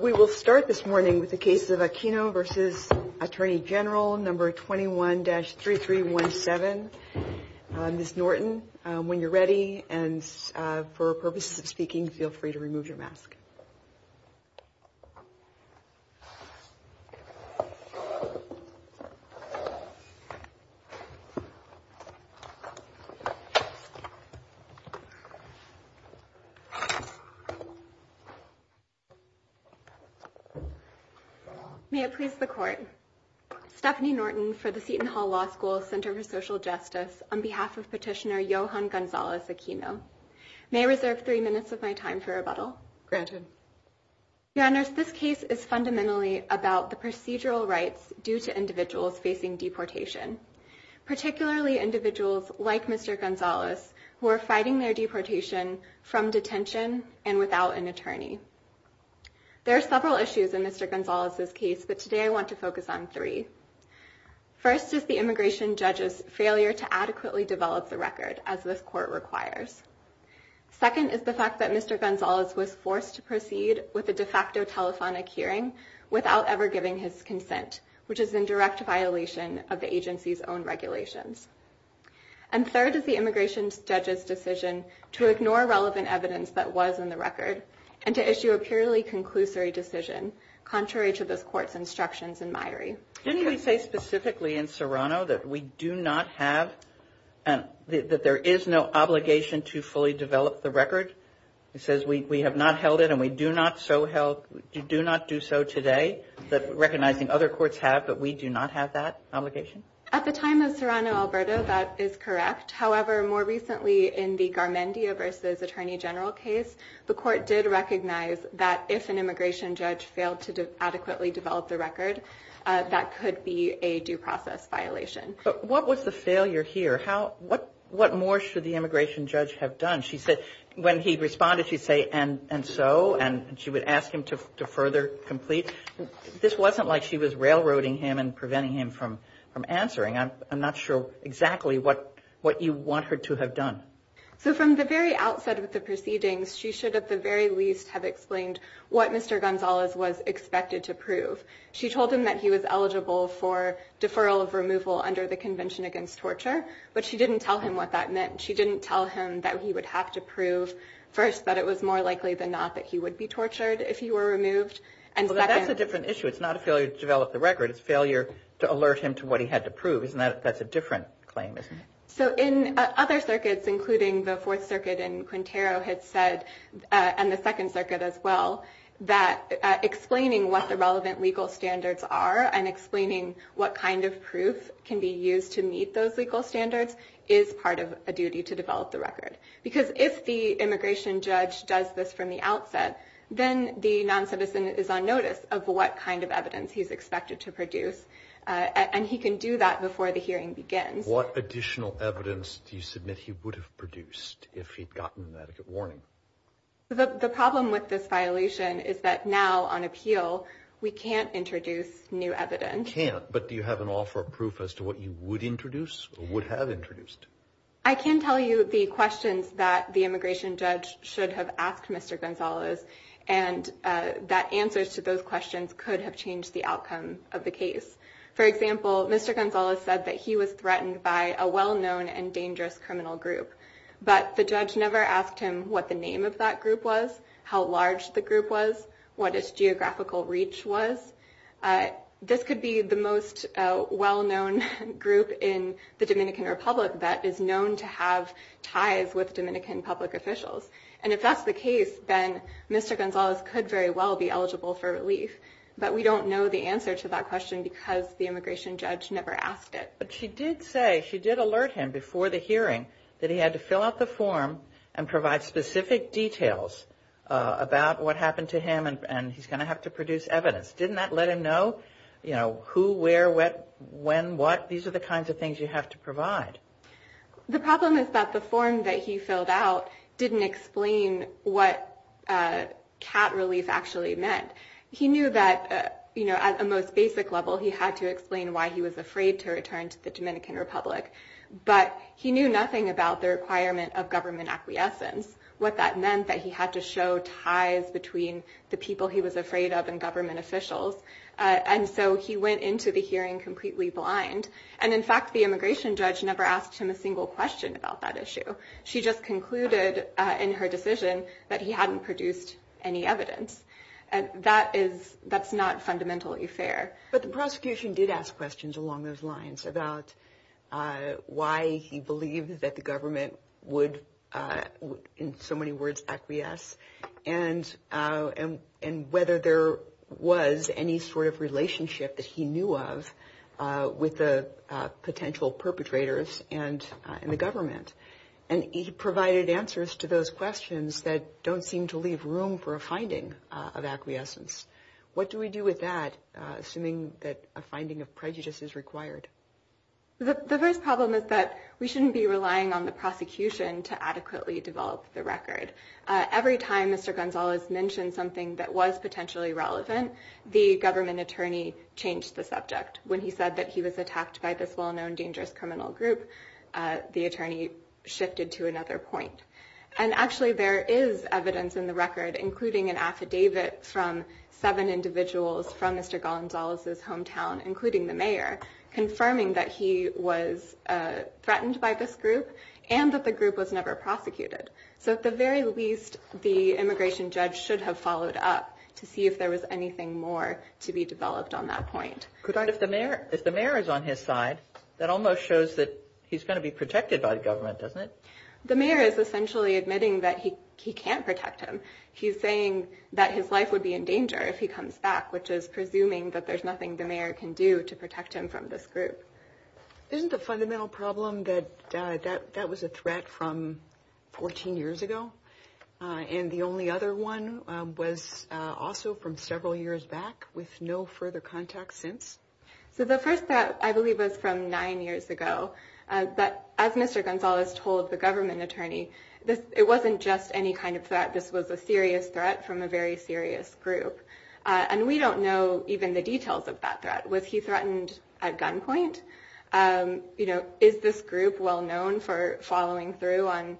We will start this morning with the case of Aquino v. Attorney General, No. 21-3317. Ms. Norton, when you're ready and for purposes of speaking, feel free to remove your mask. May it please the Court. Stephanie Norton for the Seton Hall Law School Center for Social Justice, on behalf of Petitioner Johan Gonzalez Aquino. May I reserve three minutes of my time for rebuttal? Granted. Your Honors, this case is fundamentally about the procedural rights due to individuals facing deportation, particularly individuals like Mr. Gonzalez who are fighting their deportation from detention and without an attorney. There are several issues in Mr. Gonzalez's case, but today I want to focus on three. First is the immigration judge's failure to adequately develop the record, as this Court requires. Second is the fact that Mr. Gonzalez was forced to proceed with a de facto telephonic hearing without ever giving his consent, which is in direct violation of the agency's own regulations. And third is the immigration judge's decision to ignore relevant evidence that was in the record and to issue a purely conclusory decision contrary to this Court's instructions in maire. Didn't he say specifically in Serrano that we do not have, that there is no obligation to fully develop the record? He says we have not held it and we do not do so today, recognizing other courts have, but we do not have that obligation? At the time of Serrano, Alberta, that is correct. However, more recently in the Garmendia v. Attorney General case, the Court did recognize that if an immigration judge failed to adequately develop the record, that could be a due process violation. But what was the failure here? What more should the immigration judge have done? When he responded, she'd say, and so, and she would ask him to further complete. This wasn't like she was railroading him and preventing him from answering. I'm not sure exactly what you want her to have done. So from the very outset of the proceedings, she should at the very least have explained what Mr. Gonzalez was expected to prove. She told him that he was eligible for deferral of removal under the Convention Against Torture, but she didn't tell him what that meant. She didn't tell him that he would have to prove first that it was more likely than not that he would be tortured if he were removed. Well, that's a different issue. It's not a failure to develop the record. It's a failure to alert him to what he had to prove. That's a different claim, isn't it? So in other circuits, including the Fourth Circuit and Quintero had said, and the Second Circuit as well, that explaining what the relevant legal standards are and explaining what kind of proof can be used to meet those legal standards is part of a duty to develop the record. Because if the immigration judge does this from the outset, then the non-citizen is on notice of what kind of evidence he's expected to produce. And he can do that before the hearing begins. What additional evidence do you submit he would have produced if he'd gotten an etiquette warning? The problem with this violation is that now, on appeal, we can't introduce new evidence. You can't, but do you have an offer of proof as to what you would introduce or would have introduced? I can tell you the questions that the immigration judge should have asked Mr. Gonzales, and that answers to those questions could have changed the outcome of the case. For example, Mr. Gonzales said that he was threatened by a well-known and dangerous criminal group. But the judge never asked him what the name of that group was, how large the group was, what its geographical reach was. This could be the most well-known group in the Dominican Republic that is known to have ties with Dominican public officials. And if that's the case, then Mr. Gonzales could very well be eligible for relief. But we don't know the answer to that question because the immigration judge never asked it. But she did say, she did alert him before the hearing that he had to fill out the form and provide specific details about what happened to him, and he's going to have to produce evidence. Didn't that let him know, you know, who, where, when, what? These are the kinds of things you have to provide. The problem is that the form that he filled out didn't explain what cat relief actually meant. He knew that, you know, at a most basic level, he had to explain why he was afraid to return to the Dominican Republic. But he knew nothing about the requirement of government acquiescence, what that meant that he had to show ties between the people he was afraid of and government officials. And so he went into the hearing completely blind. And, in fact, the immigration judge never asked him a single question about that issue. She just concluded in her decision that he hadn't produced any evidence. And that is, that's not fundamentally fair. But the prosecution did ask questions along those lines about why he believed that the government would, in so many words, acquiesce, and whether there was any sort of relationship that he knew of with the potential perpetrators and the government. And he provided answers to those questions that don't seem to leave room for a finding of acquiescence. What do we do with that, assuming that a finding of prejudice is required? The first problem is that we shouldn't be relying on the prosecution to adequately develop the record. Every time Mr. Gonzalez mentioned something that was potentially relevant, the government attorney changed the subject. When he said that he was attacked by this well-known dangerous criminal group, the attorney shifted to another point. And, actually, there is evidence in the record, including an affidavit from seven individuals from Mr. Gonzalez's hometown, including the mayor, confirming that he was threatened by this group and that the group was never prosecuted. So, at the very least, the immigration judge should have followed up to see if there was anything more to be developed on that point. But if the mayor is on his side, that almost shows that he's going to be protected by the government, doesn't it? The mayor is essentially admitting that he can't protect him. He's saying that his life would be in danger if he comes back, which is presuming that there's nothing the mayor can do to protect him from this group. Isn't the fundamental problem that that was a threat from 14 years ago, and the only other one was also from several years back with no further contact since? So the first threat, I believe, was from nine years ago. But as Mr. Gonzalez told the government attorney, it wasn't just any kind of threat. This was a serious threat from a very serious group. And we don't know even the details of that threat. Was he threatened at gunpoint? Is this group well known for following through on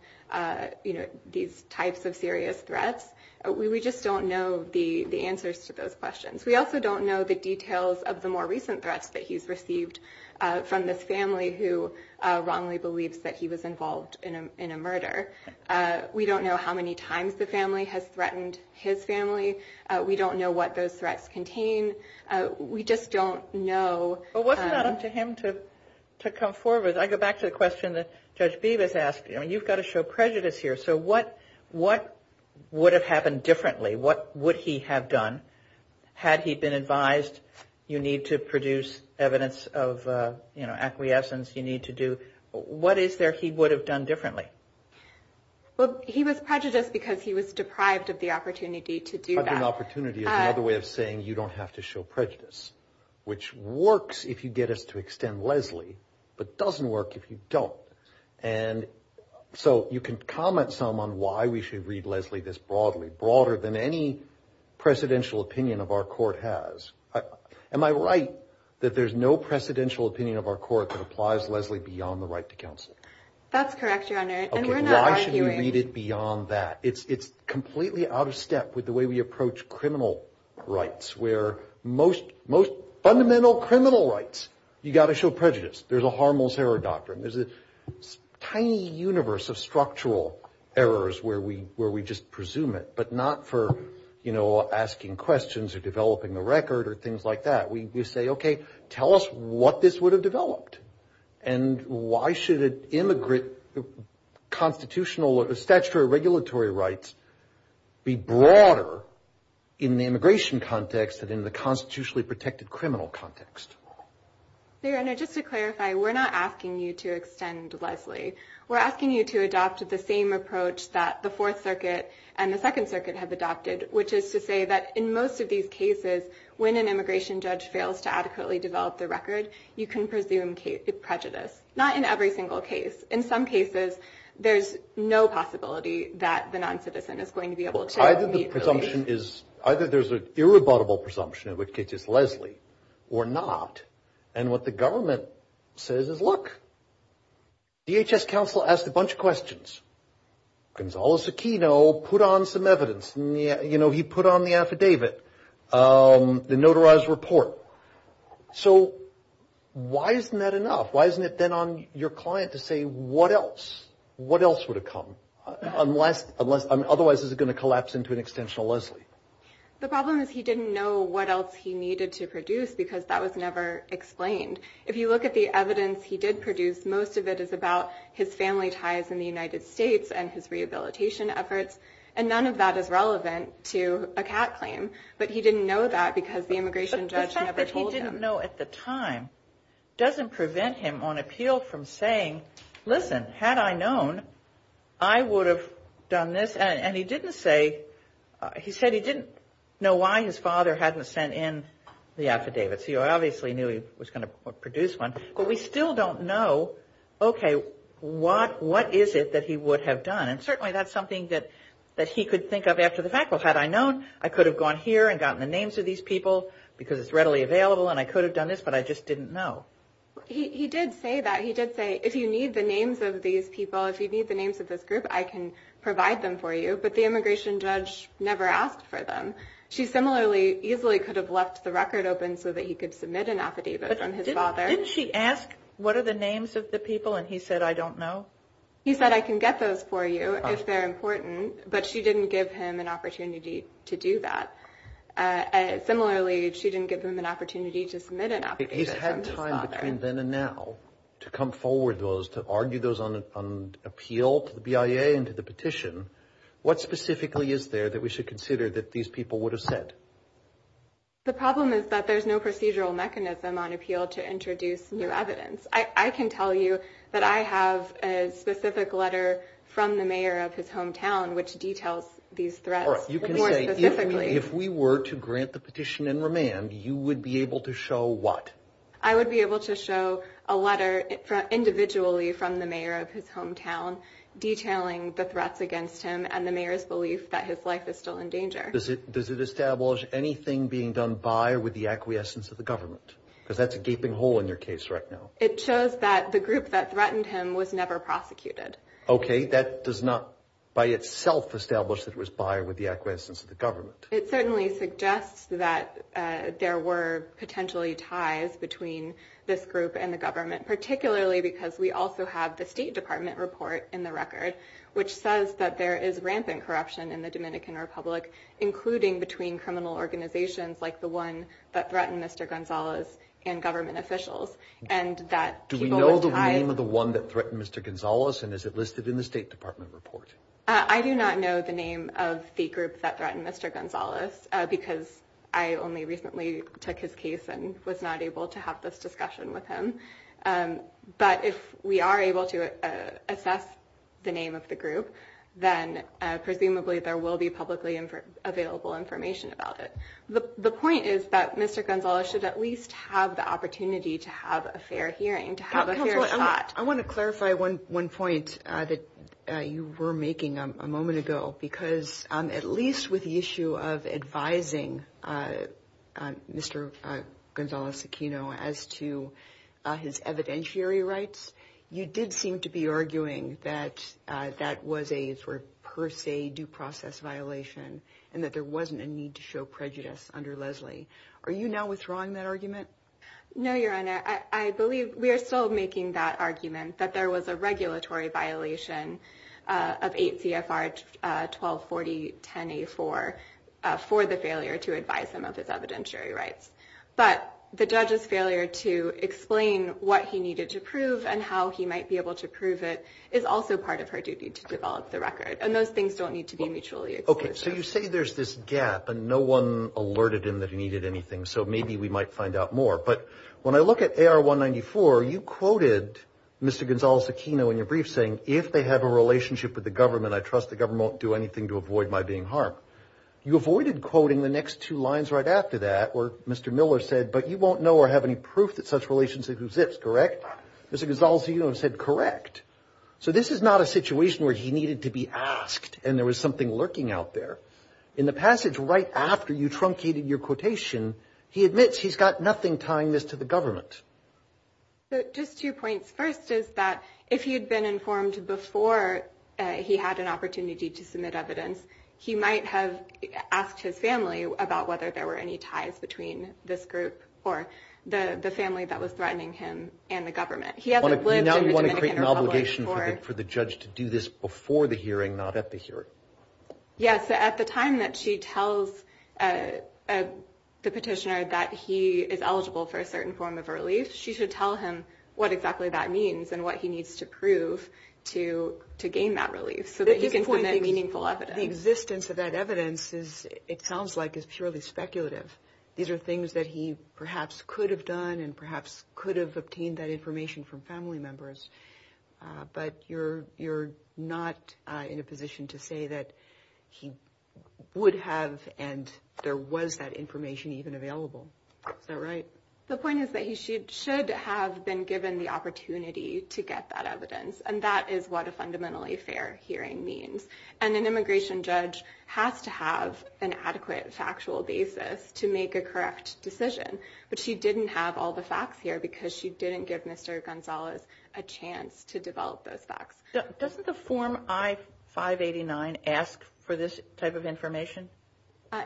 these types of serious threats? We just don't know the answers to those questions. We also don't know the details of the more recent threats that he's received from this family who wrongly believes that he was involved in a murder. We don't know how many times the family has threatened his family. We don't know what those threats contain. We just don't know. But wasn't it up to him to come forward? I go back to the question that Judge Bevis asked. You've got to show prejudice here. So what would have happened differently? What would he have done had he been advised you need to produce evidence of acquiescence, you need to do? What is there he would have done differently? Well, he was prejudiced because he was deprived of the opportunity to do that. Deprived of an opportunity is another way of saying you don't have to show prejudice, which works if you get us to extend Leslie, but doesn't work if you don't. And so you can comment some on why we should read Leslie this broadly, broader than any presidential opinion of our court has. Am I right that there's no presidential opinion of our court that applies Leslie beyond the right to counsel? That's correct, Your Honor. And we're not arguing. Why should we read it beyond that? It's completely out of step with the way we approach criminal rights, where most fundamental criminal rights, you've got to show prejudice. There's a harmless error doctrine. There's a tiny universe of structural errors where we just presume it, but not for, you know, asking questions or developing the record or things like that. We say, okay, tell us what this would have developed. And why should it immigrate constitutional statutory regulatory rights be broader in the immigration context than in the constitutionally protected criminal context? Your Honor, just to clarify, we're not asking you to extend Leslie. We're asking you to adopt the same approach that the Fourth Circuit and the Second Circuit have adopted, which is to say that in most of these cases, when an immigration judge fails to adequately develop the record, you can presume prejudice. Not in every single case. In some cases, there's no possibility that the noncitizen is going to be able to meet Leslie. Either there's an irrebuttable presumption in which case it's Leslie or not. And what the government says is, look, DHS counsel asked a bunch of questions. Gonzalo Zucchino put on some evidence. You know, he put on the affidavit, the notarized report. So why isn't that enough? Why isn't it then on your client to say what else? What else would have come? Otherwise, is it going to collapse into an extensional Leslie? The problem is he didn't know what else he needed to produce because that was never explained. If you look at the evidence he did produce, most of it is about his family ties in the United States and his rehabilitation efforts. And none of that is relevant to a cat claim. But he didn't know that because the immigration judge never told him. But the fact that he didn't know at the time doesn't prevent him on appeal from saying, listen, had I known, I would have done this. And he didn't say he said he didn't know why his father hadn't sent in the affidavits. He obviously knew he was going to produce one. But we still don't know, okay, what is it that he would have done? And certainly that's something that he could think of after the fact. Well, had I known, I could have gone here and gotten the names of these people because it's readily available and I could have done this, but I just didn't know. He did say that. He did say, if you need the names of these people, if you need the names of this group, I can provide them for you. But the immigration judge never asked for them. She similarly easily could have left the record open so that he could submit an affidavit from his father. Didn't she ask, what are the names of the people? And he said, I don't know. He said, I can get those for you if they're important. But she didn't give him an opportunity to do that. Similarly, she didn't give him an opportunity to submit an affidavit from his father. He's had time between then and now to come forward with those, to argue those on appeal to the BIA and to the petition. What specifically is there that we should consider that these people would have said? The problem is that there's no procedural mechanism on appeal to introduce new evidence. I can tell you that I have a specific letter from the mayor of his hometown which details these threats more specifically. All right. You can say, if we were to grant the petition in remand, you would be able to show what? I would be able to show a letter individually from the mayor of his hometown detailing the threats against him and the mayor's belief that his life is still in danger. Does it establish anything being done by or with the acquiescence of the government? Because that's a gaping hole in your case right now. It shows that the group that threatened him was never prosecuted. OK. That does not by itself establish that it was by or with the acquiescence of the government. It certainly suggests that there were potentially ties between this group and the government, particularly because we also have the State Department report in the record which says that there is rampant corruption in the Dominican Republic, including between criminal organizations like the one that threatened Mr. Gonzales and government officials, and that people were tied. Do we know the name of the one that threatened Mr. Gonzales, and is it listed in the State Department report? I do not know the name of the group that threatened Mr. Gonzales because I only recently took his case and was not able to have this discussion with him. But if we are able to assess the name of the group, then presumably there will be publicly available information about it. The point is that Mr. Gonzales should at least have the opportunity to have a fair hearing, to have a fair shot. I want to clarify one point that you were making a moment ago, because at least with the issue of advising Mr. Gonzales Aquino as to his evidentiary rights, you did seem to be arguing that that was a per se due process violation and that there wasn't a need to show prejudice under Leslie. Are you now withdrawing that argument? No, Your Honor. I believe we are still making that argument that there was a regulatory violation of 8 CFR 1240-10A4 for the failure to advise him of his evidentiary rights. But the judge's failure to explain what he needed to prove and how he might be able to prove it is also part of her duty to develop the record. And those things don't need to be mutually exclusive. So you say there's this gap and no one alerted him that he needed anything, so maybe we might find out more. But when I look at AR 194, you quoted Mr. Gonzales Aquino in your brief saying, if they have a relationship with the government, I trust the government won't do anything to avoid my being harmed. You avoided quoting the next two lines right after that where Mr. Miller said, but you won't know or have any proof that such relationship exists, correct? Mr. Gonzales Aquino said, correct. So this is not a situation where he needed to be asked and there was something lurking out there. In the passage right after you truncated your quotation, he admits he's got nothing tying this to the government. So just two points. First is that if he had been informed before he had an opportunity to submit evidence, he might have asked his family about whether there were any ties between this group or the family that was threatening him and the government. Now you want to create an obligation for the judge to do this before the hearing, not at the hearing. Yes. At the time that she tells the petitioner that he is eligible for a certain form of relief, she should tell him what exactly that means and what he needs to prove to gain that relief so that he can submit meaningful evidence. The existence of that evidence, it sounds like, is purely speculative. These are things that he perhaps could have done and perhaps could have obtained that information from family members. But you're you're not in a position to say that he would have and there was that information even available. Is that right? The point is that he should have been given the opportunity to get that evidence. And that is what a fundamentally fair hearing means. And an immigration judge has to have an adequate factual basis to make a correct decision. But she didn't have all the facts here because she didn't give Mr. Gonzalez a chance to develop those facts. Doesn't the form I-589 ask for this type of information?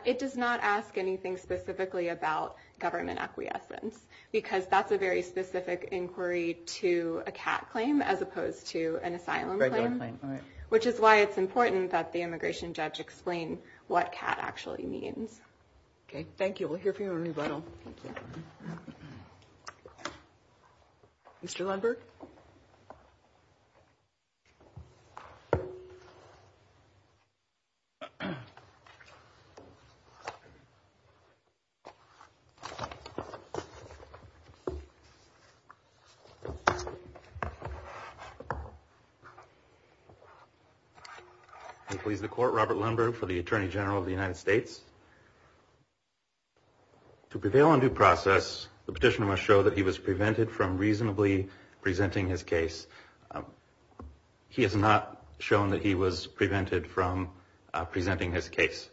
It does not ask anything specifically about government acquiescence, because that's a very specific inquiry to a cat claim as opposed to an asylum claim, which is why it's important that the immigration judge explain what cat actually means. OK, thank you. We'll hear from you in rebuttal. Mr. Lemberg. Please. The court, Robert Lemberg for the attorney general of the United States. To prevail on due process, the petitioner must show that he was prevented from reasonably presenting his case. He has not shown that he was prevented from presenting his case.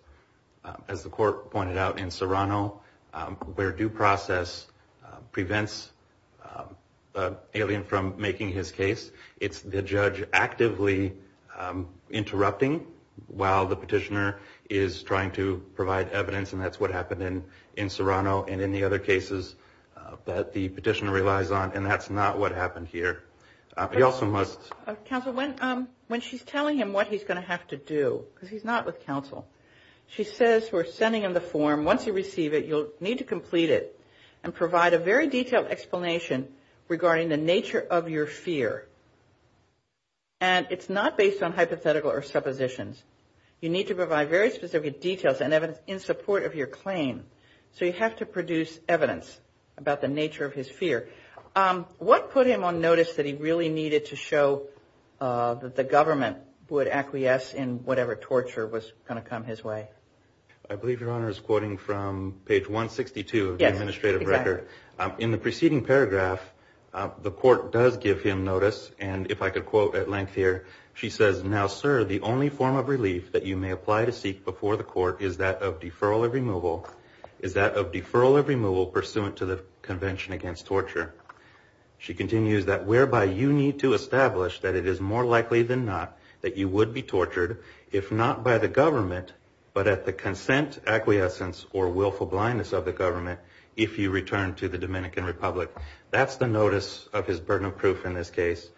As the court pointed out in Serrano, where due process prevents an alien from making his case, it's the judge actively interrupting while the petitioner is trying to provide evidence, and that's what happened in Serrano and in the other cases that the petitioner relies on, and that's not what happened here. He also must. Counsel, when she's telling him what he's going to have to do, because he's not with counsel, she says we're sending him the form. Once you receive it, you'll need to complete it and provide a very detailed explanation regarding the nature of your fear. And it's not based on hypothetical or suppositions. You need to provide very specific details and evidence in support of your claim. So you have to produce evidence about the nature of his fear. What put him on notice that he really needed to show that the government would acquiesce in whatever torture was going to come his way? I believe Your Honor is quoting from page 162 of the administrative record. In the preceding paragraph, the court does give him notice, and if I could quote at length here, she says, Now, sir, the only form of relief that you may apply to seek before the court is that of deferral or removal pursuant to the Convention Against Torture. She continues that whereby you need to establish that it is more likely than not that you would be tortured, if not by the government, but at the consent, acquiescence, or willful blindness of the government if you return to the Dominican Republic. That's the notice of his burden of proof in this case.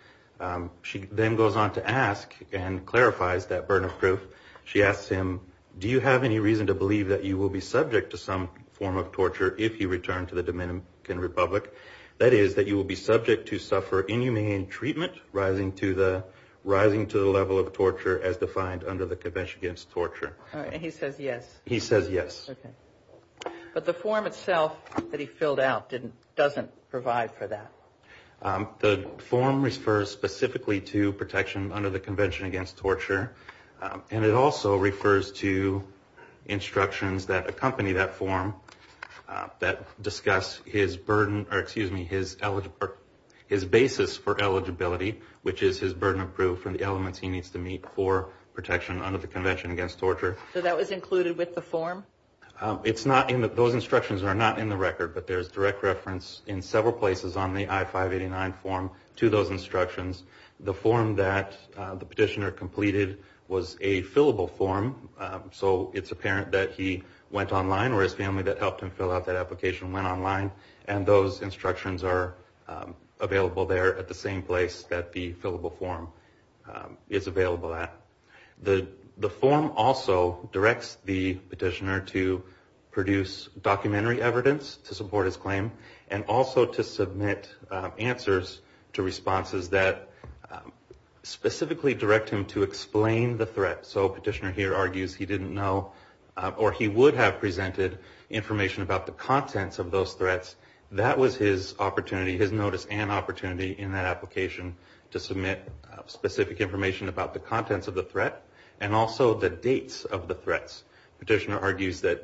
She then goes on to ask and clarifies that burden of proof. She asks him, Do you have any reason to believe that you will be subject to some form of torture if you return to the Dominican Republic? That is, that you will be subject to suffer inhumane treatment rising to the level of torture as defined under the Convention Against Torture. And he says yes. He says yes. Okay. But the form itself that he filled out doesn't provide for that. The form refers specifically to protection under the Convention Against Torture, and it also refers to instructions that accompany that form that discuss his burden or excuse me, his basis for eligibility, which is his burden of proof and the elements he needs to meet for protection under the Convention Against Torture. So that was included with the form? Those instructions are not in the record, but there is direct reference in several places on the I-589 form to those instructions. The form that the petitioner completed was a fillable form, so it's apparent that he went online or his family that helped him fill out that application went online, and those instructions are available there at the same place that the fillable form is available at. The form also directs the petitioner to produce documentary evidence to support his claim and also to submit answers to responses that specifically direct him to explain the threat. So a petitioner here argues he didn't know or he would have presented information about the contents of those threats. That was his opportunity, his notice and opportunity in that application to submit specific information about the contents of the threat and also the dates of the threats. The petitioner argues that,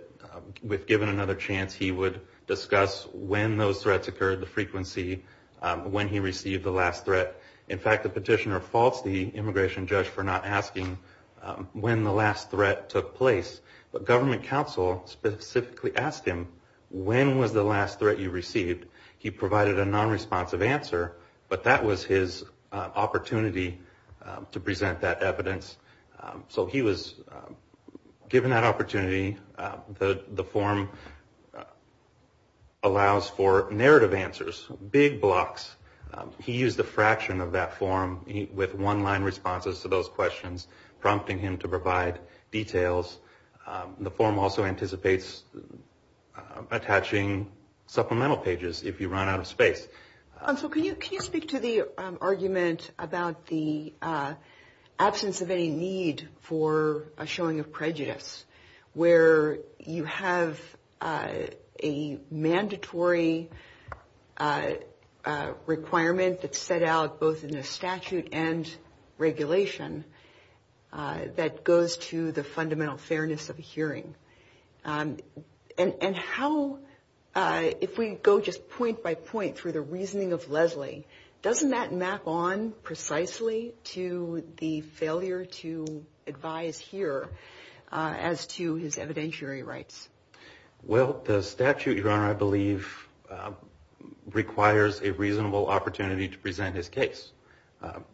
if given another chance, he would discuss when those threats occurred, the frequency, when he received the last threat. In fact, the petitioner faults the immigration judge for not asking when the last threat took place, but government counsel specifically asked him, when was the last threat you received? He provided a nonresponsive answer, but that was his opportunity to present that evidence. So he was given that opportunity. The form allows for narrative answers, big blocks. He used a fraction of that form with one-line responses to those questions, prompting him to provide details. The form also anticipates attaching supplemental pages if you run out of space. So can you speak to the argument about the absence of any need for a showing of prejudice, where you have a mandatory requirement that's set out both in the statute and regulation that goes to the fundamental fairness of a hearing? And how, if we go just point by point through the reasoning of Leslie, doesn't that map on precisely to the failure to advise here as to his evidentiary rights? Well, the statute, Your Honor, I believe requires a reasonable opportunity to present his case.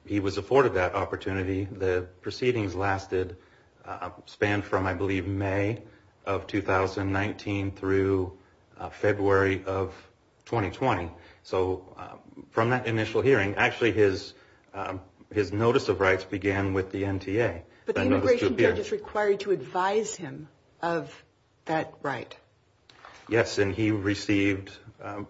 He was afforded that opportunity. The proceedings lasted, spanned from, I believe, May of 2019 through February of 2020. So from that initial hearing, actually his notice of rights began with the NTA. But the immigration judge is required to advise him of that right. Yes, and he received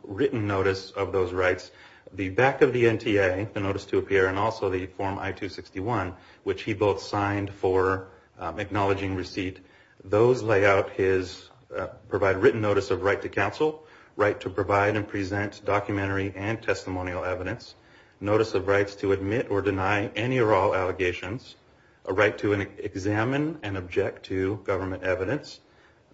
written notice of those rights. The back of the NTA, the notice to appear, and also the form I-261, which he both signed for acknowledging receipt, those lay out his provided written notice of right to counsel, right to provide and present documentary and testimonial evidence, notice of rights to admit or deny any or all allegations, a right to examine and object to government evidence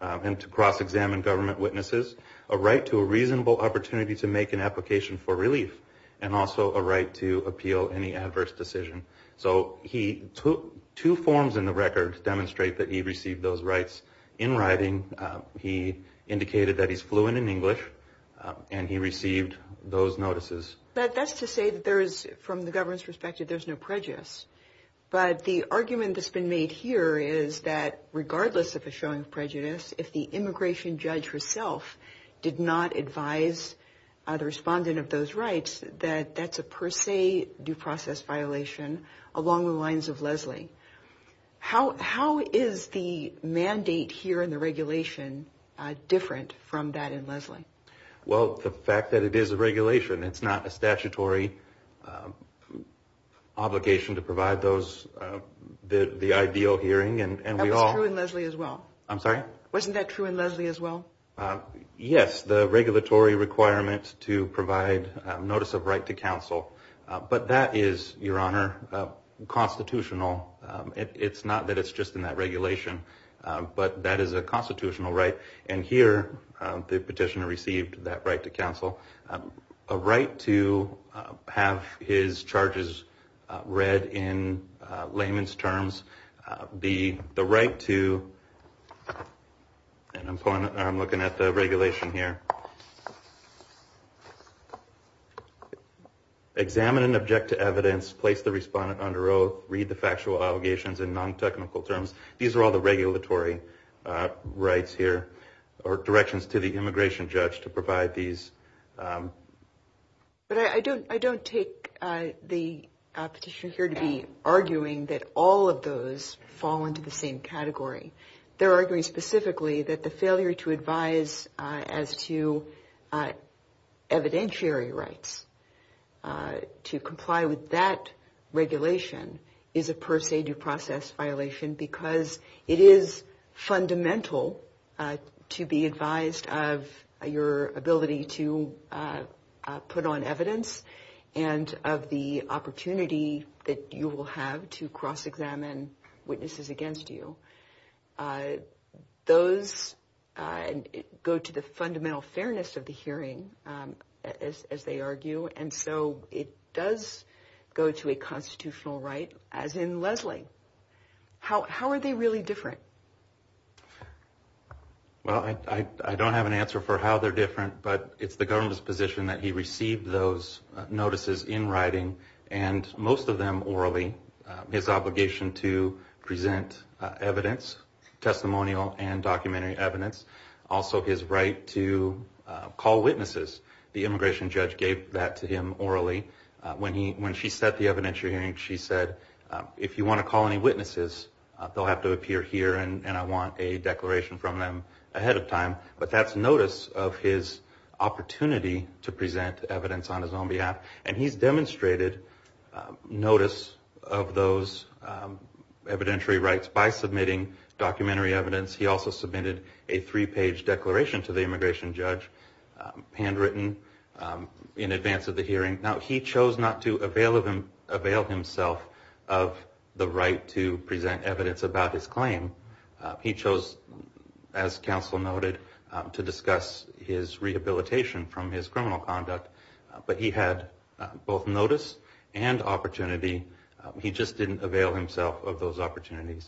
and to cross-examine government witnesses, a right to a reasonable opportunity to make an application for relief, and also a right to appeal any adverse decision. So he took two forms in the record to demonstrate that he received those rights in writing. He indicated that he's fluent in English, and he received those notices. But that's to say that there is, from the government's perspective, there's no prejudice. But the argument that's been made here is that regardless of a showing of prejudice, if the immigration judge herself did not advise the respondent of those rights, that that's a per se due process violation along the lines of Leslie. How is the mandate here in the regulation different from that in Leslie? Well, the fact that it is a regulation. It's not a statutory obligation to provide those, the ideal hearing. That was true in Leslie as well. I'm sorry? Wasn't that true in Leslie as well? Yes, the regulatory requirements to provide notice of right to counsel. But that is, Your Honor, constitutional. It's not that it's just in that regulation, but that is a constitutional right. And here the petitioner received that right to counsel, a right to have his charges read in layman's terms, the right to, and I'm looking at the regulation here, examine and object to evidence, place the respondent under oath, read the factual allegations in non-technical terms. These are all the regulatory rights here or directions to the immigration judge to provide these. But I don't take the petitioner here to be arguing that all of those fall into the same category. They're arguing specifically that the failure to advise as to evidentiary rights, to comply with that regulation is a per se due process violation because it is fundamental to be advised of your ability to put on evidence and of the opportunity that you will have to cross-examine witnesses against you. Those go to the fundamental fairness of the hearing, as they argue, and so it does go to a constitutional right, as in Leslie. How are they really different? Well, I don't have an answer for how they're different, but it's the governor's position that he received those notices in writing, and most of them orally. His obligation to present evidence, testimonial and documentary evidence, also his right to call witnesses. The immigration judge gave that to him orally. When she set the evidentiary hearing, she said, if you want to call any witnesses, they'll have to appear here and I want a declaration from them ahead of time. But that's notice of his opportunity to present evidence on his own behalf, and he's demonstrated notice of those evidentiary rights by submitting documentary evidence. He also submitted a three-page declaration to the immigration judge, handwritten, in advance of the hearing. Now, he chose not to avail himself of the right to present evidence about his claim. He chose, as counsel noted, to discuss his rehabilitation from his criminal conduct, but he had both notice and opportunity. He just didn't avail himself of those opportunities.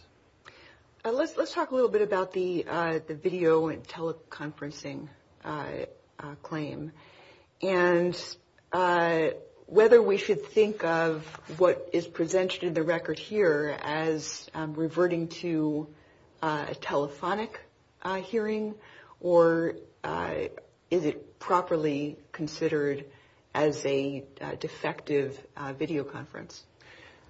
Let's talk a little bit about the video and teleconferencing claim and whether we should think of what is presented in the record here as reverting to a telephonic hearing, or is it properly considered as a defective videoconference?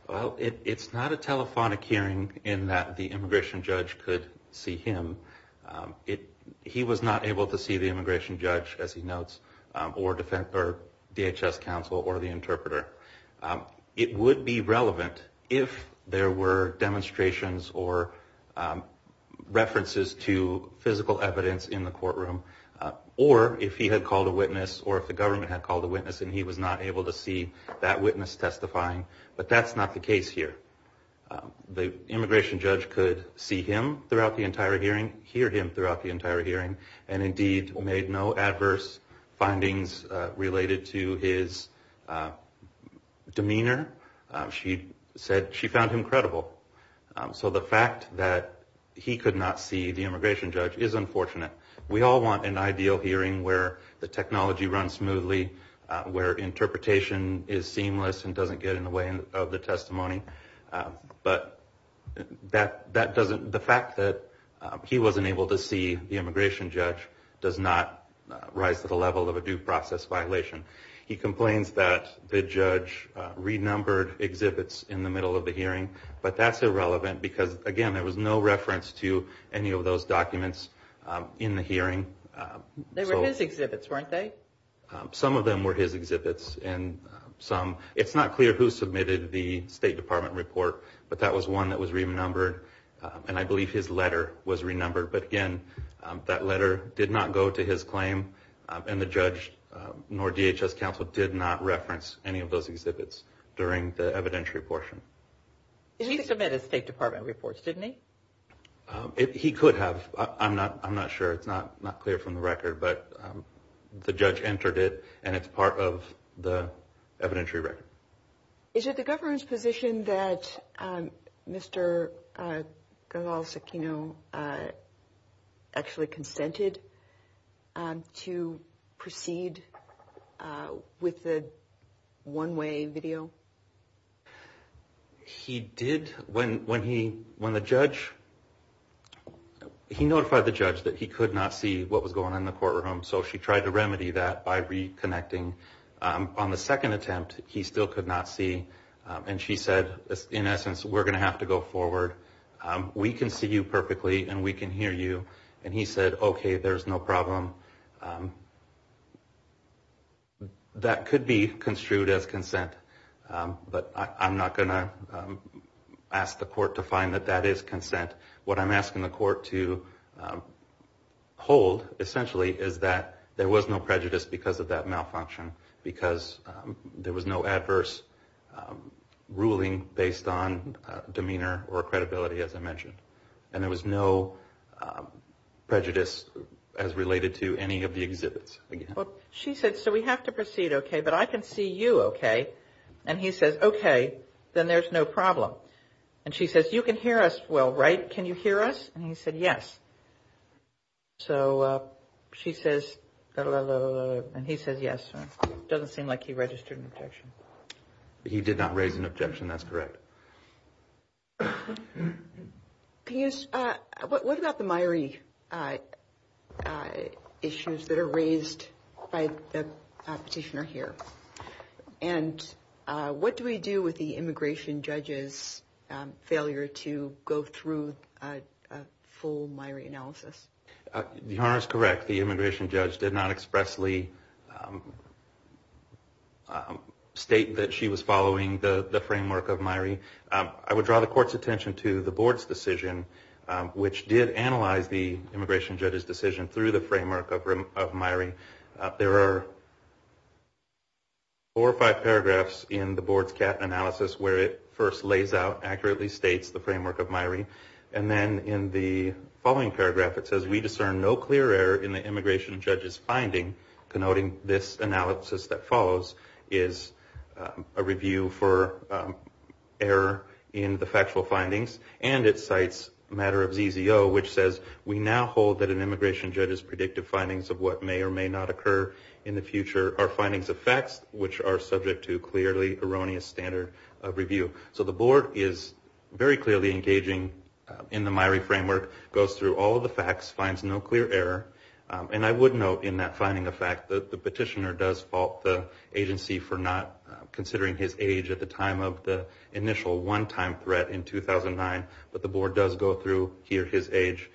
Well, it's not a telephonic hearing in that the immigration judge could see him. He was not able to see the immigration judge, as he notes, or DHS counsel or the interpreter. It would be relevant if there were demonstrations or references to physical evidence in the courtroom, or if he had called a witness or if the government had called a witness and he was not able to see that witness testifying. But that's not the case here. The immigration judge could see him throughout the entire hearing, hear him throughout the entire hearing, and indeed made no adverse findings related to his demeanor. She said she found him credible. So the fact that he could not see the immigration judge is unfortunate. We all want an ideal hearing where the technology runs smoothly, where interpretation is seamless and doesn't get in the way of the testimony. But the fact that he wasn't able to see the immigration judge does not rise to the level of a due process violation. He complains that the judge renumbered exhibits in the middle of the hearing, but that's irrelevant because, again, there was no reference to any of those documents in the hearing. They were his exhibits, weren't they? Some of them were his exhibits. It's not clear who submitted the State Department report, but that was one that was renumbered, and I believe his letter was renumbered. But, again, that letter did not go to his claim, and the judge nor DHS counsel did not reference any of those exhibits during the evidentiary portion. He submitted State Department reports, didn't he? He could have. I'm not sure. It's not clear from the record, but the judge entered it, and it's part of the evidentiary record. Is it the government's position that Mr. Gonzales Aquino actually consented to proceed with the one-way video? He did. He notified the judge that he could not see what was going on in the courtroom, so she tried to remedy that by reconnecting. On the second attempt, he still could not see, and she said, in essence, we're going to have to go forward. We can see you perfectly, and we can hear you. And he said, okay, there's no problem. That could be construed as consent, but I'm not going to ask the court to find that that is consent. What I'm asking the court to hold, essentially, is that there was no prejudice because of that malfunction, because there was no adverse ruling based on demeanor or credibility, as I mentioned. And there was no prejudice as related to any of the exhibits. She said, so we have to proceed, okay, but I can see you okay. And he says, okay, then there's no problem. And she says, you can hear us well, right? Can you hear us? And he said, yes. So she says, and he says, yes. It doesn't seem like he registered an objection. He did not raise an objection. That's correct. What about the Myrie issues that are raised by the petitioner here? And what do we do with the immigration judge's failure to go through a full Myrie analysis? Your Honor is correct. The immigration judge did not expressly state that she was following the framework of Myrie. I would draw the court's attention to the board's decision, which did analyze the immigration judge's decision through the framework of Myrie. There are four or five paragraphs in the board's CAT analysis where it first lays out, accurately states the framework of Myrie. And then in the following paragraph it says, we discern no clear error in the immigration judge's finding, connoting this analysis that follows, is a review for error in the factual findings. And it cites a matter of ZZO, which says, we now hold that an immigration judge's predictive findings of what may or may not occur in the future are findings of facts, which are subject to clearly erroneous standard of review. So the board is very clearly engaging in the Myrie framework, goes through all of the facts, finds no clear error. And I would note in that finding the fact that the petitioner does fault the agency for not considering his age at the time of the initial one-time threat in 2009, but the board does go through his age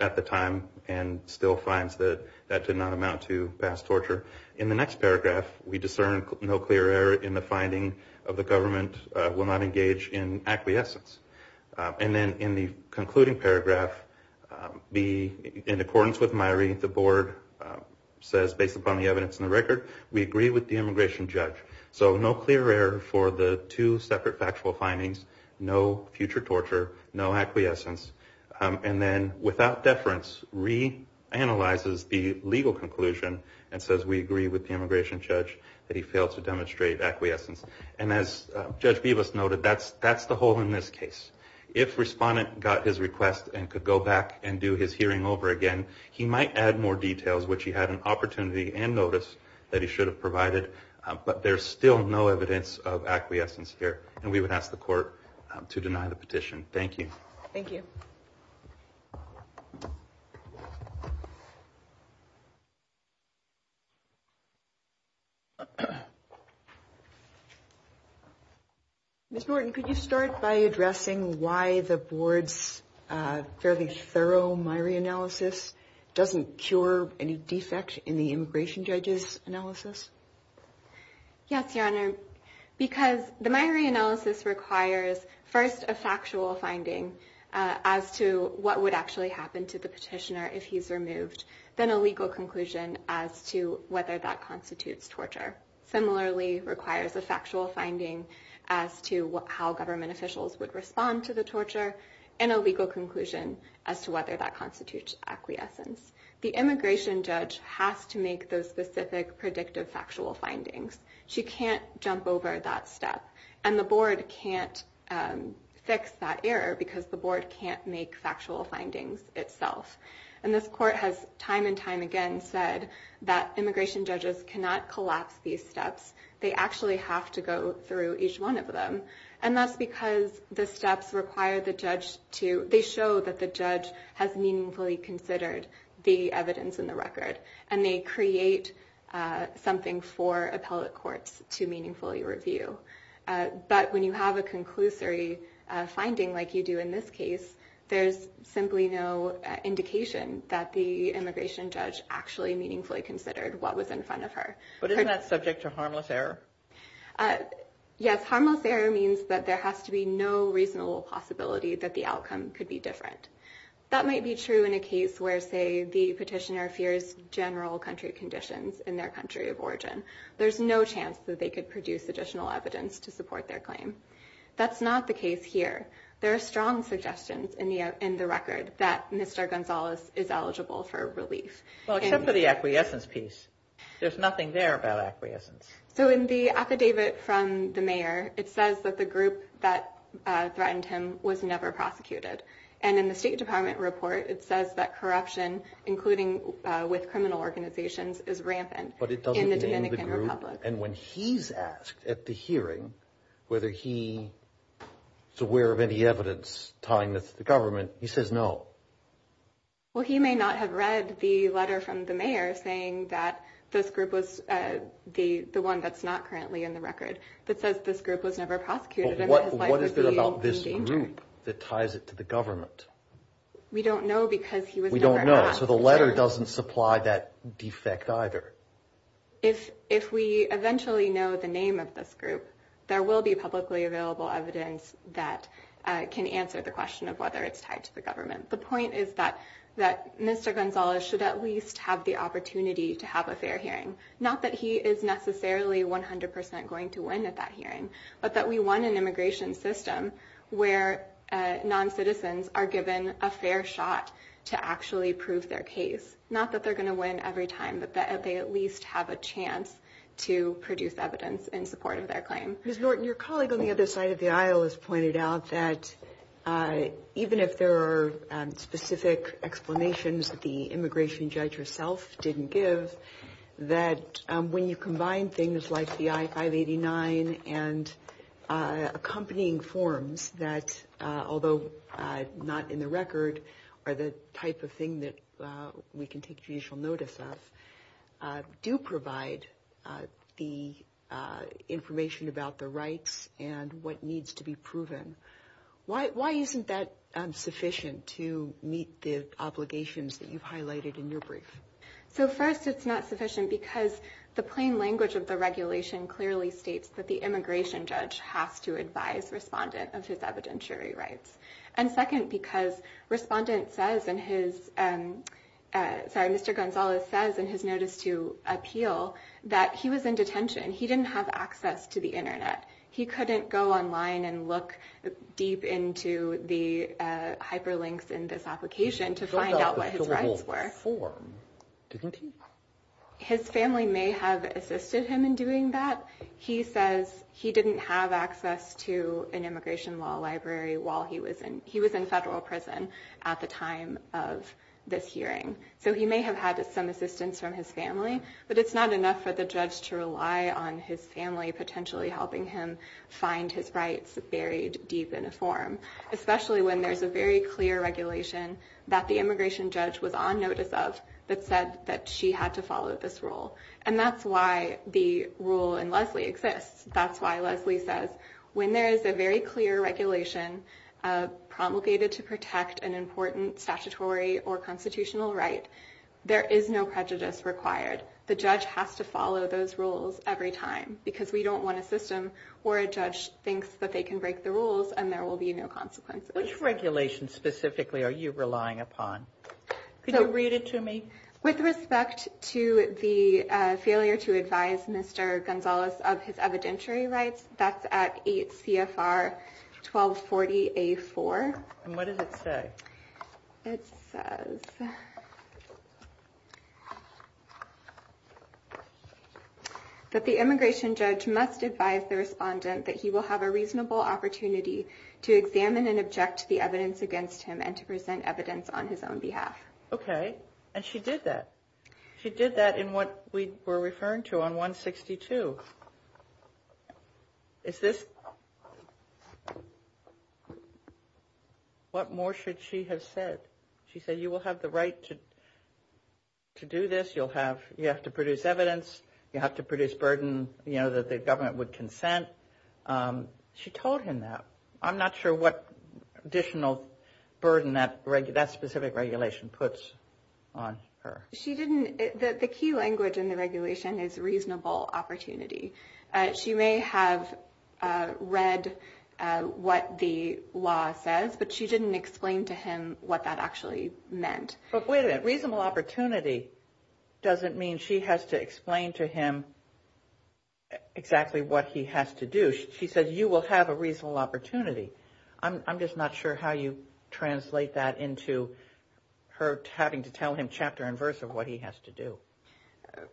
at the time and still finds that that did not amount to past torture. In the next paragraph, we discern no clear error in the finding of the government will not engage in acquiescence. And then in the concluding paragraph, in accordance with Myrie, the board says, based upon the evidence in the record, we agree with the immigration judge. So no clear error for the two separate factual findings, no future torture, no acquiescence. And then without deference, re-analyzes the legal conclusion and says, we agree with the immigration judge that he failed to demonstrate acquiescence. And as Judge Bevis noted, that's the hole in this case. If respondent got his request and could go back and do his hearing over again, he might add more details, which he had an opportunity and notice that he should have provided. But there's still no evidence of acquiescence here. And we would ask the court to deny the petition. Thank you. Thank you. Ms. Norton, could you start by addressing why the board's fairly thorough Myrie analysis doesn't cure any defect in the immigration judge's analysis? Yes, Your Honor. Because the Myrie analysis requires, first, a factual finding as to what would actually happen to the petitioner if he's removed, then a legal conclusion as to whether that constitutes torture. Similarly, requires a factual finding as to how government officials would respond to the torture and a legal conclusion as to whether that constitutes acquiescence. The immigration judge has to make those specific predictive factual findings. She can't jump over that step. And the board can't fix that error because the board can't make factual findings itself. And this court has time and time again said that immigration judges cannot collapse these steps. They actually have to go through each one of them. And that's because the steps require the judge to, they show that the judge has meaningfully considered the evidence in the record. And they create something for appellate courts to meaningfully review. But when you have a conclusory finding like you do in this case, there's simply no indication that the immigration judge actually meaningfully considered what was in front of her. But isn't that subject to harmless error? Yes. Harmless error means that there has to be no reasonable possibility that the outcome could be different. That might be true in a case where say the petitioner fears general country conditions in their country of origin. There's no chance that they could produce additional evidence to support their claim. That's not the case here. There are strong suggestions in the record that Mr. Gonzalez is eligible for relief. Well, except for the acquiescence piece. There's nothing there about acquiescence. So in the affidavit from the mayor, it says that the group that threatened him was never prosecuted. And in the State Department report, it says that corruption, including with criminal organizations, is rampant in the Dominican Republic. But it doesn't name the group. And when he's asked at the hearing whether he is aware of any evidence tying this to the government, he says no. Well, he may not have read the letter from the mayor saying that this group was the one that's not currently in the record that says this group was never prosecuted. So what is it about this group that ties it to the government? We don't know because he was never asked. We don't know. So the letter doesn't supply that defect either. If we eventually know the name of this group, there will be publicly available evidence that can answer the question of whether it's tied to the government. The point is that Mr. Gonzalez should at least have the opportunity to have a fair hearing. Not that he is necessarily 100% going to win at that hearing, but that we want an immigration system where non-citizens are given a fair shot to actually prove their case. Not that they're going to win every time, but that they at least have a chance to produce evidence in support of their claim. Ms. Norton, your colleague on the other side of the aisle has pointed out that even if there are specific explanations that the immigration judge herself didn't give, that when you combine things like the I-589 and accompanying forms that, although not in the record, are the type of thing that we can take judicial notice of, do provide the information about the rights and what needs to be proven. Why isn't that sufficient to meet the obligations that you've highlighted in your brief? So first, it's not sufficient because the plain language of the regulation clearly states that the immigration judge has to advise respondent of his evidentiary rights. And second, because respondent says in his, sorry, Mr. Gonzalez says in his notice to appeal that he was in detention. He didn't have access to the internet. He couldn't go online and look deep into the hyperlinks in this application to find out what his rights were. His family may have assisted him in doing that. He says he didn't have access to an immigration law library while he was in, he was in federal prison at the time of this hearing. So he may have had some assistance from his family, but it's not enough for the judge to rely on his family, potentially helping him find his rights buried deep in a form, especially when there's a very clear regulation that the immigration judge was on notice of that said that she had to follow this rule. And that's why the rule in Leslie exists. That's why Leslie says when there is a very clear regulation promulgated to protect an important statutory or constitutional right, there is no prejudice required. The judge has to follow those rules every time because we don't want a system where a judge thinks that they can break the rules and there will be no consequences. Which regulation specifically are you relying upon? Could you read it to me? With respect to the failure to advise Mr. Gonzalez of his evidentiary rights, that's at 8 CFR 1240A4. And what does it say? It says that the immigration judge must advise the respondent that he will have a reasonable opportunity to examine and object to the evidence against him and to present evidence on his own behalf. Okay. And she did that. She did that in what we were referring to on 162. Is this? What more should she have said? She said you will have the right to do this. You have to produce evidence. You have to produce burden, you know, that the government would consent. She told him that. I'm not sure what additional burden that specific regulation puts on her. The key language in the regulation is reasonable opportunity. She may have read what the law says, but she didn't explain to him what that actually meant. But wait a minute. Reasonable opportunity doesn't mean she has to explain to him exactly what he has to do. She says you will have a reasonable opportunity. I'm just not sure how you translate that into her having to tell him chapter and verse of what he has to do.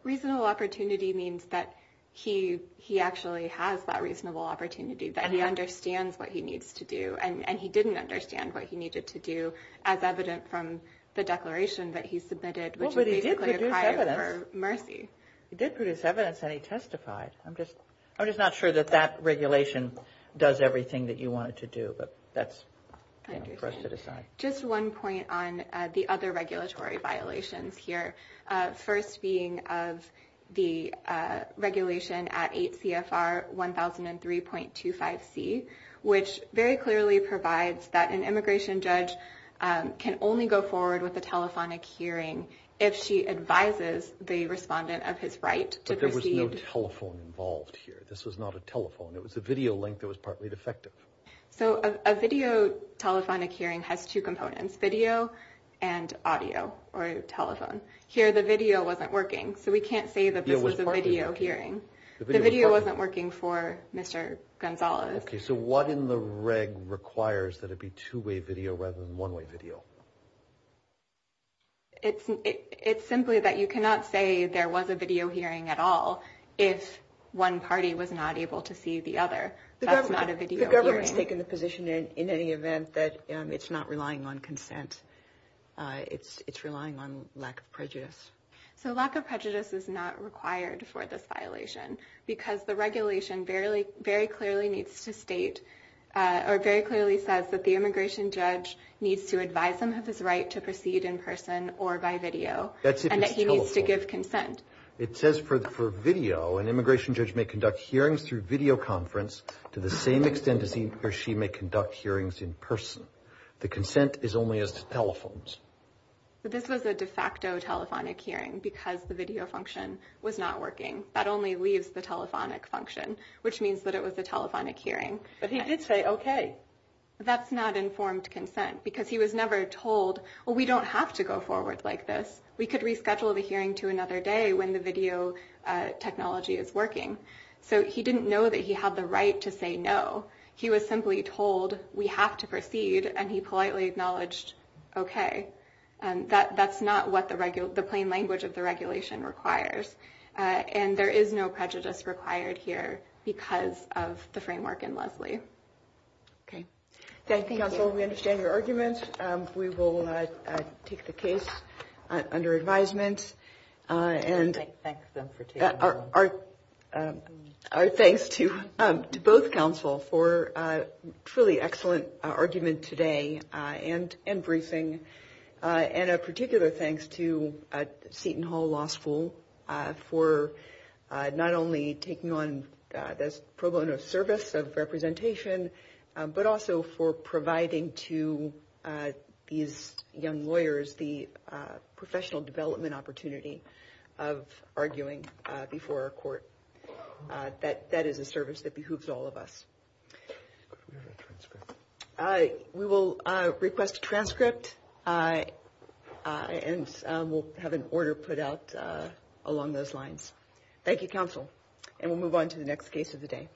Reasonable opportunity means that he actually has that reasonable opportunity, that he understands what he needs to do, and he didn't understand what he needed to do as evident from the declaration that he submitted, which is basically a cry for mercy. He did produce evidence, and he testified. I'm just not sure that that regulation does everything that you want it to do, but that's kind of rested aside. Just one point on the other regulatory violations here, first being of the regulation at 8 CFR 1003.25C, which very clearly provides that an immigration judge can only go forward with a telephonic hearing if she advises the respondent of his right to proceed. There was no telephone involved here. This was not a telephone. It was a video link that was partly defective. So a video telephonic hearing has two components, video and audio or telephone. Here the video wasn't working, so we can't say that this was a video hearing. The video wasn't working for Mr. Gonzales. Okay, so what in the reg requires that it be two-way video rather than one-way video? It's simply that you cannot say there was a video hearing at all if one party was not able to see the other. That's not a video hearing. The government has taken the position in any event that it's not relying on consent. It's relying on lack of prejudice. So lack of prejudice is not required for this violation because the regulation very clearly needs to state or very clearly says that the immigration judge needs to advise them of his right to proceed in person or by video and that he needs to give consent. It says for video, an immigration judge may conduct hearings through video conference to the same extent as he or she may conduct hearings in person. The consent is only as telephones. But this was a de facto telephonic hearing because the video function was not working. That only leaves the telephonic function, which means that it was a telephonic hearing. But he did say okay. That's not informed consent because he was never told, well, we don't have to go forward like this. We could reschedule the hearing to another day when the video technology is working. So he didn't know that he had the right to say no. He was simply told we have to proceed, and he politely acknowledged okay. That's not what the plain language of the regulation requires. And there is no prejudice required here because of the framework in Lesley. Okay. Thank you, counsel. We understand your argument. We will take the case under advisement. And our thanks to both counsel for a truly excellent argument today and briefing. And a particular thanks to Seton Hall Law School for not only taking on this pro bono service of representation, but also for providing to these young lawyers the professional development opportunity of arguing before a court. That is a service that behooves all of us. We will request a transcript, and we'll have an order put out along those lines. Thank you, counsel. And we'll move on to the next case of the day.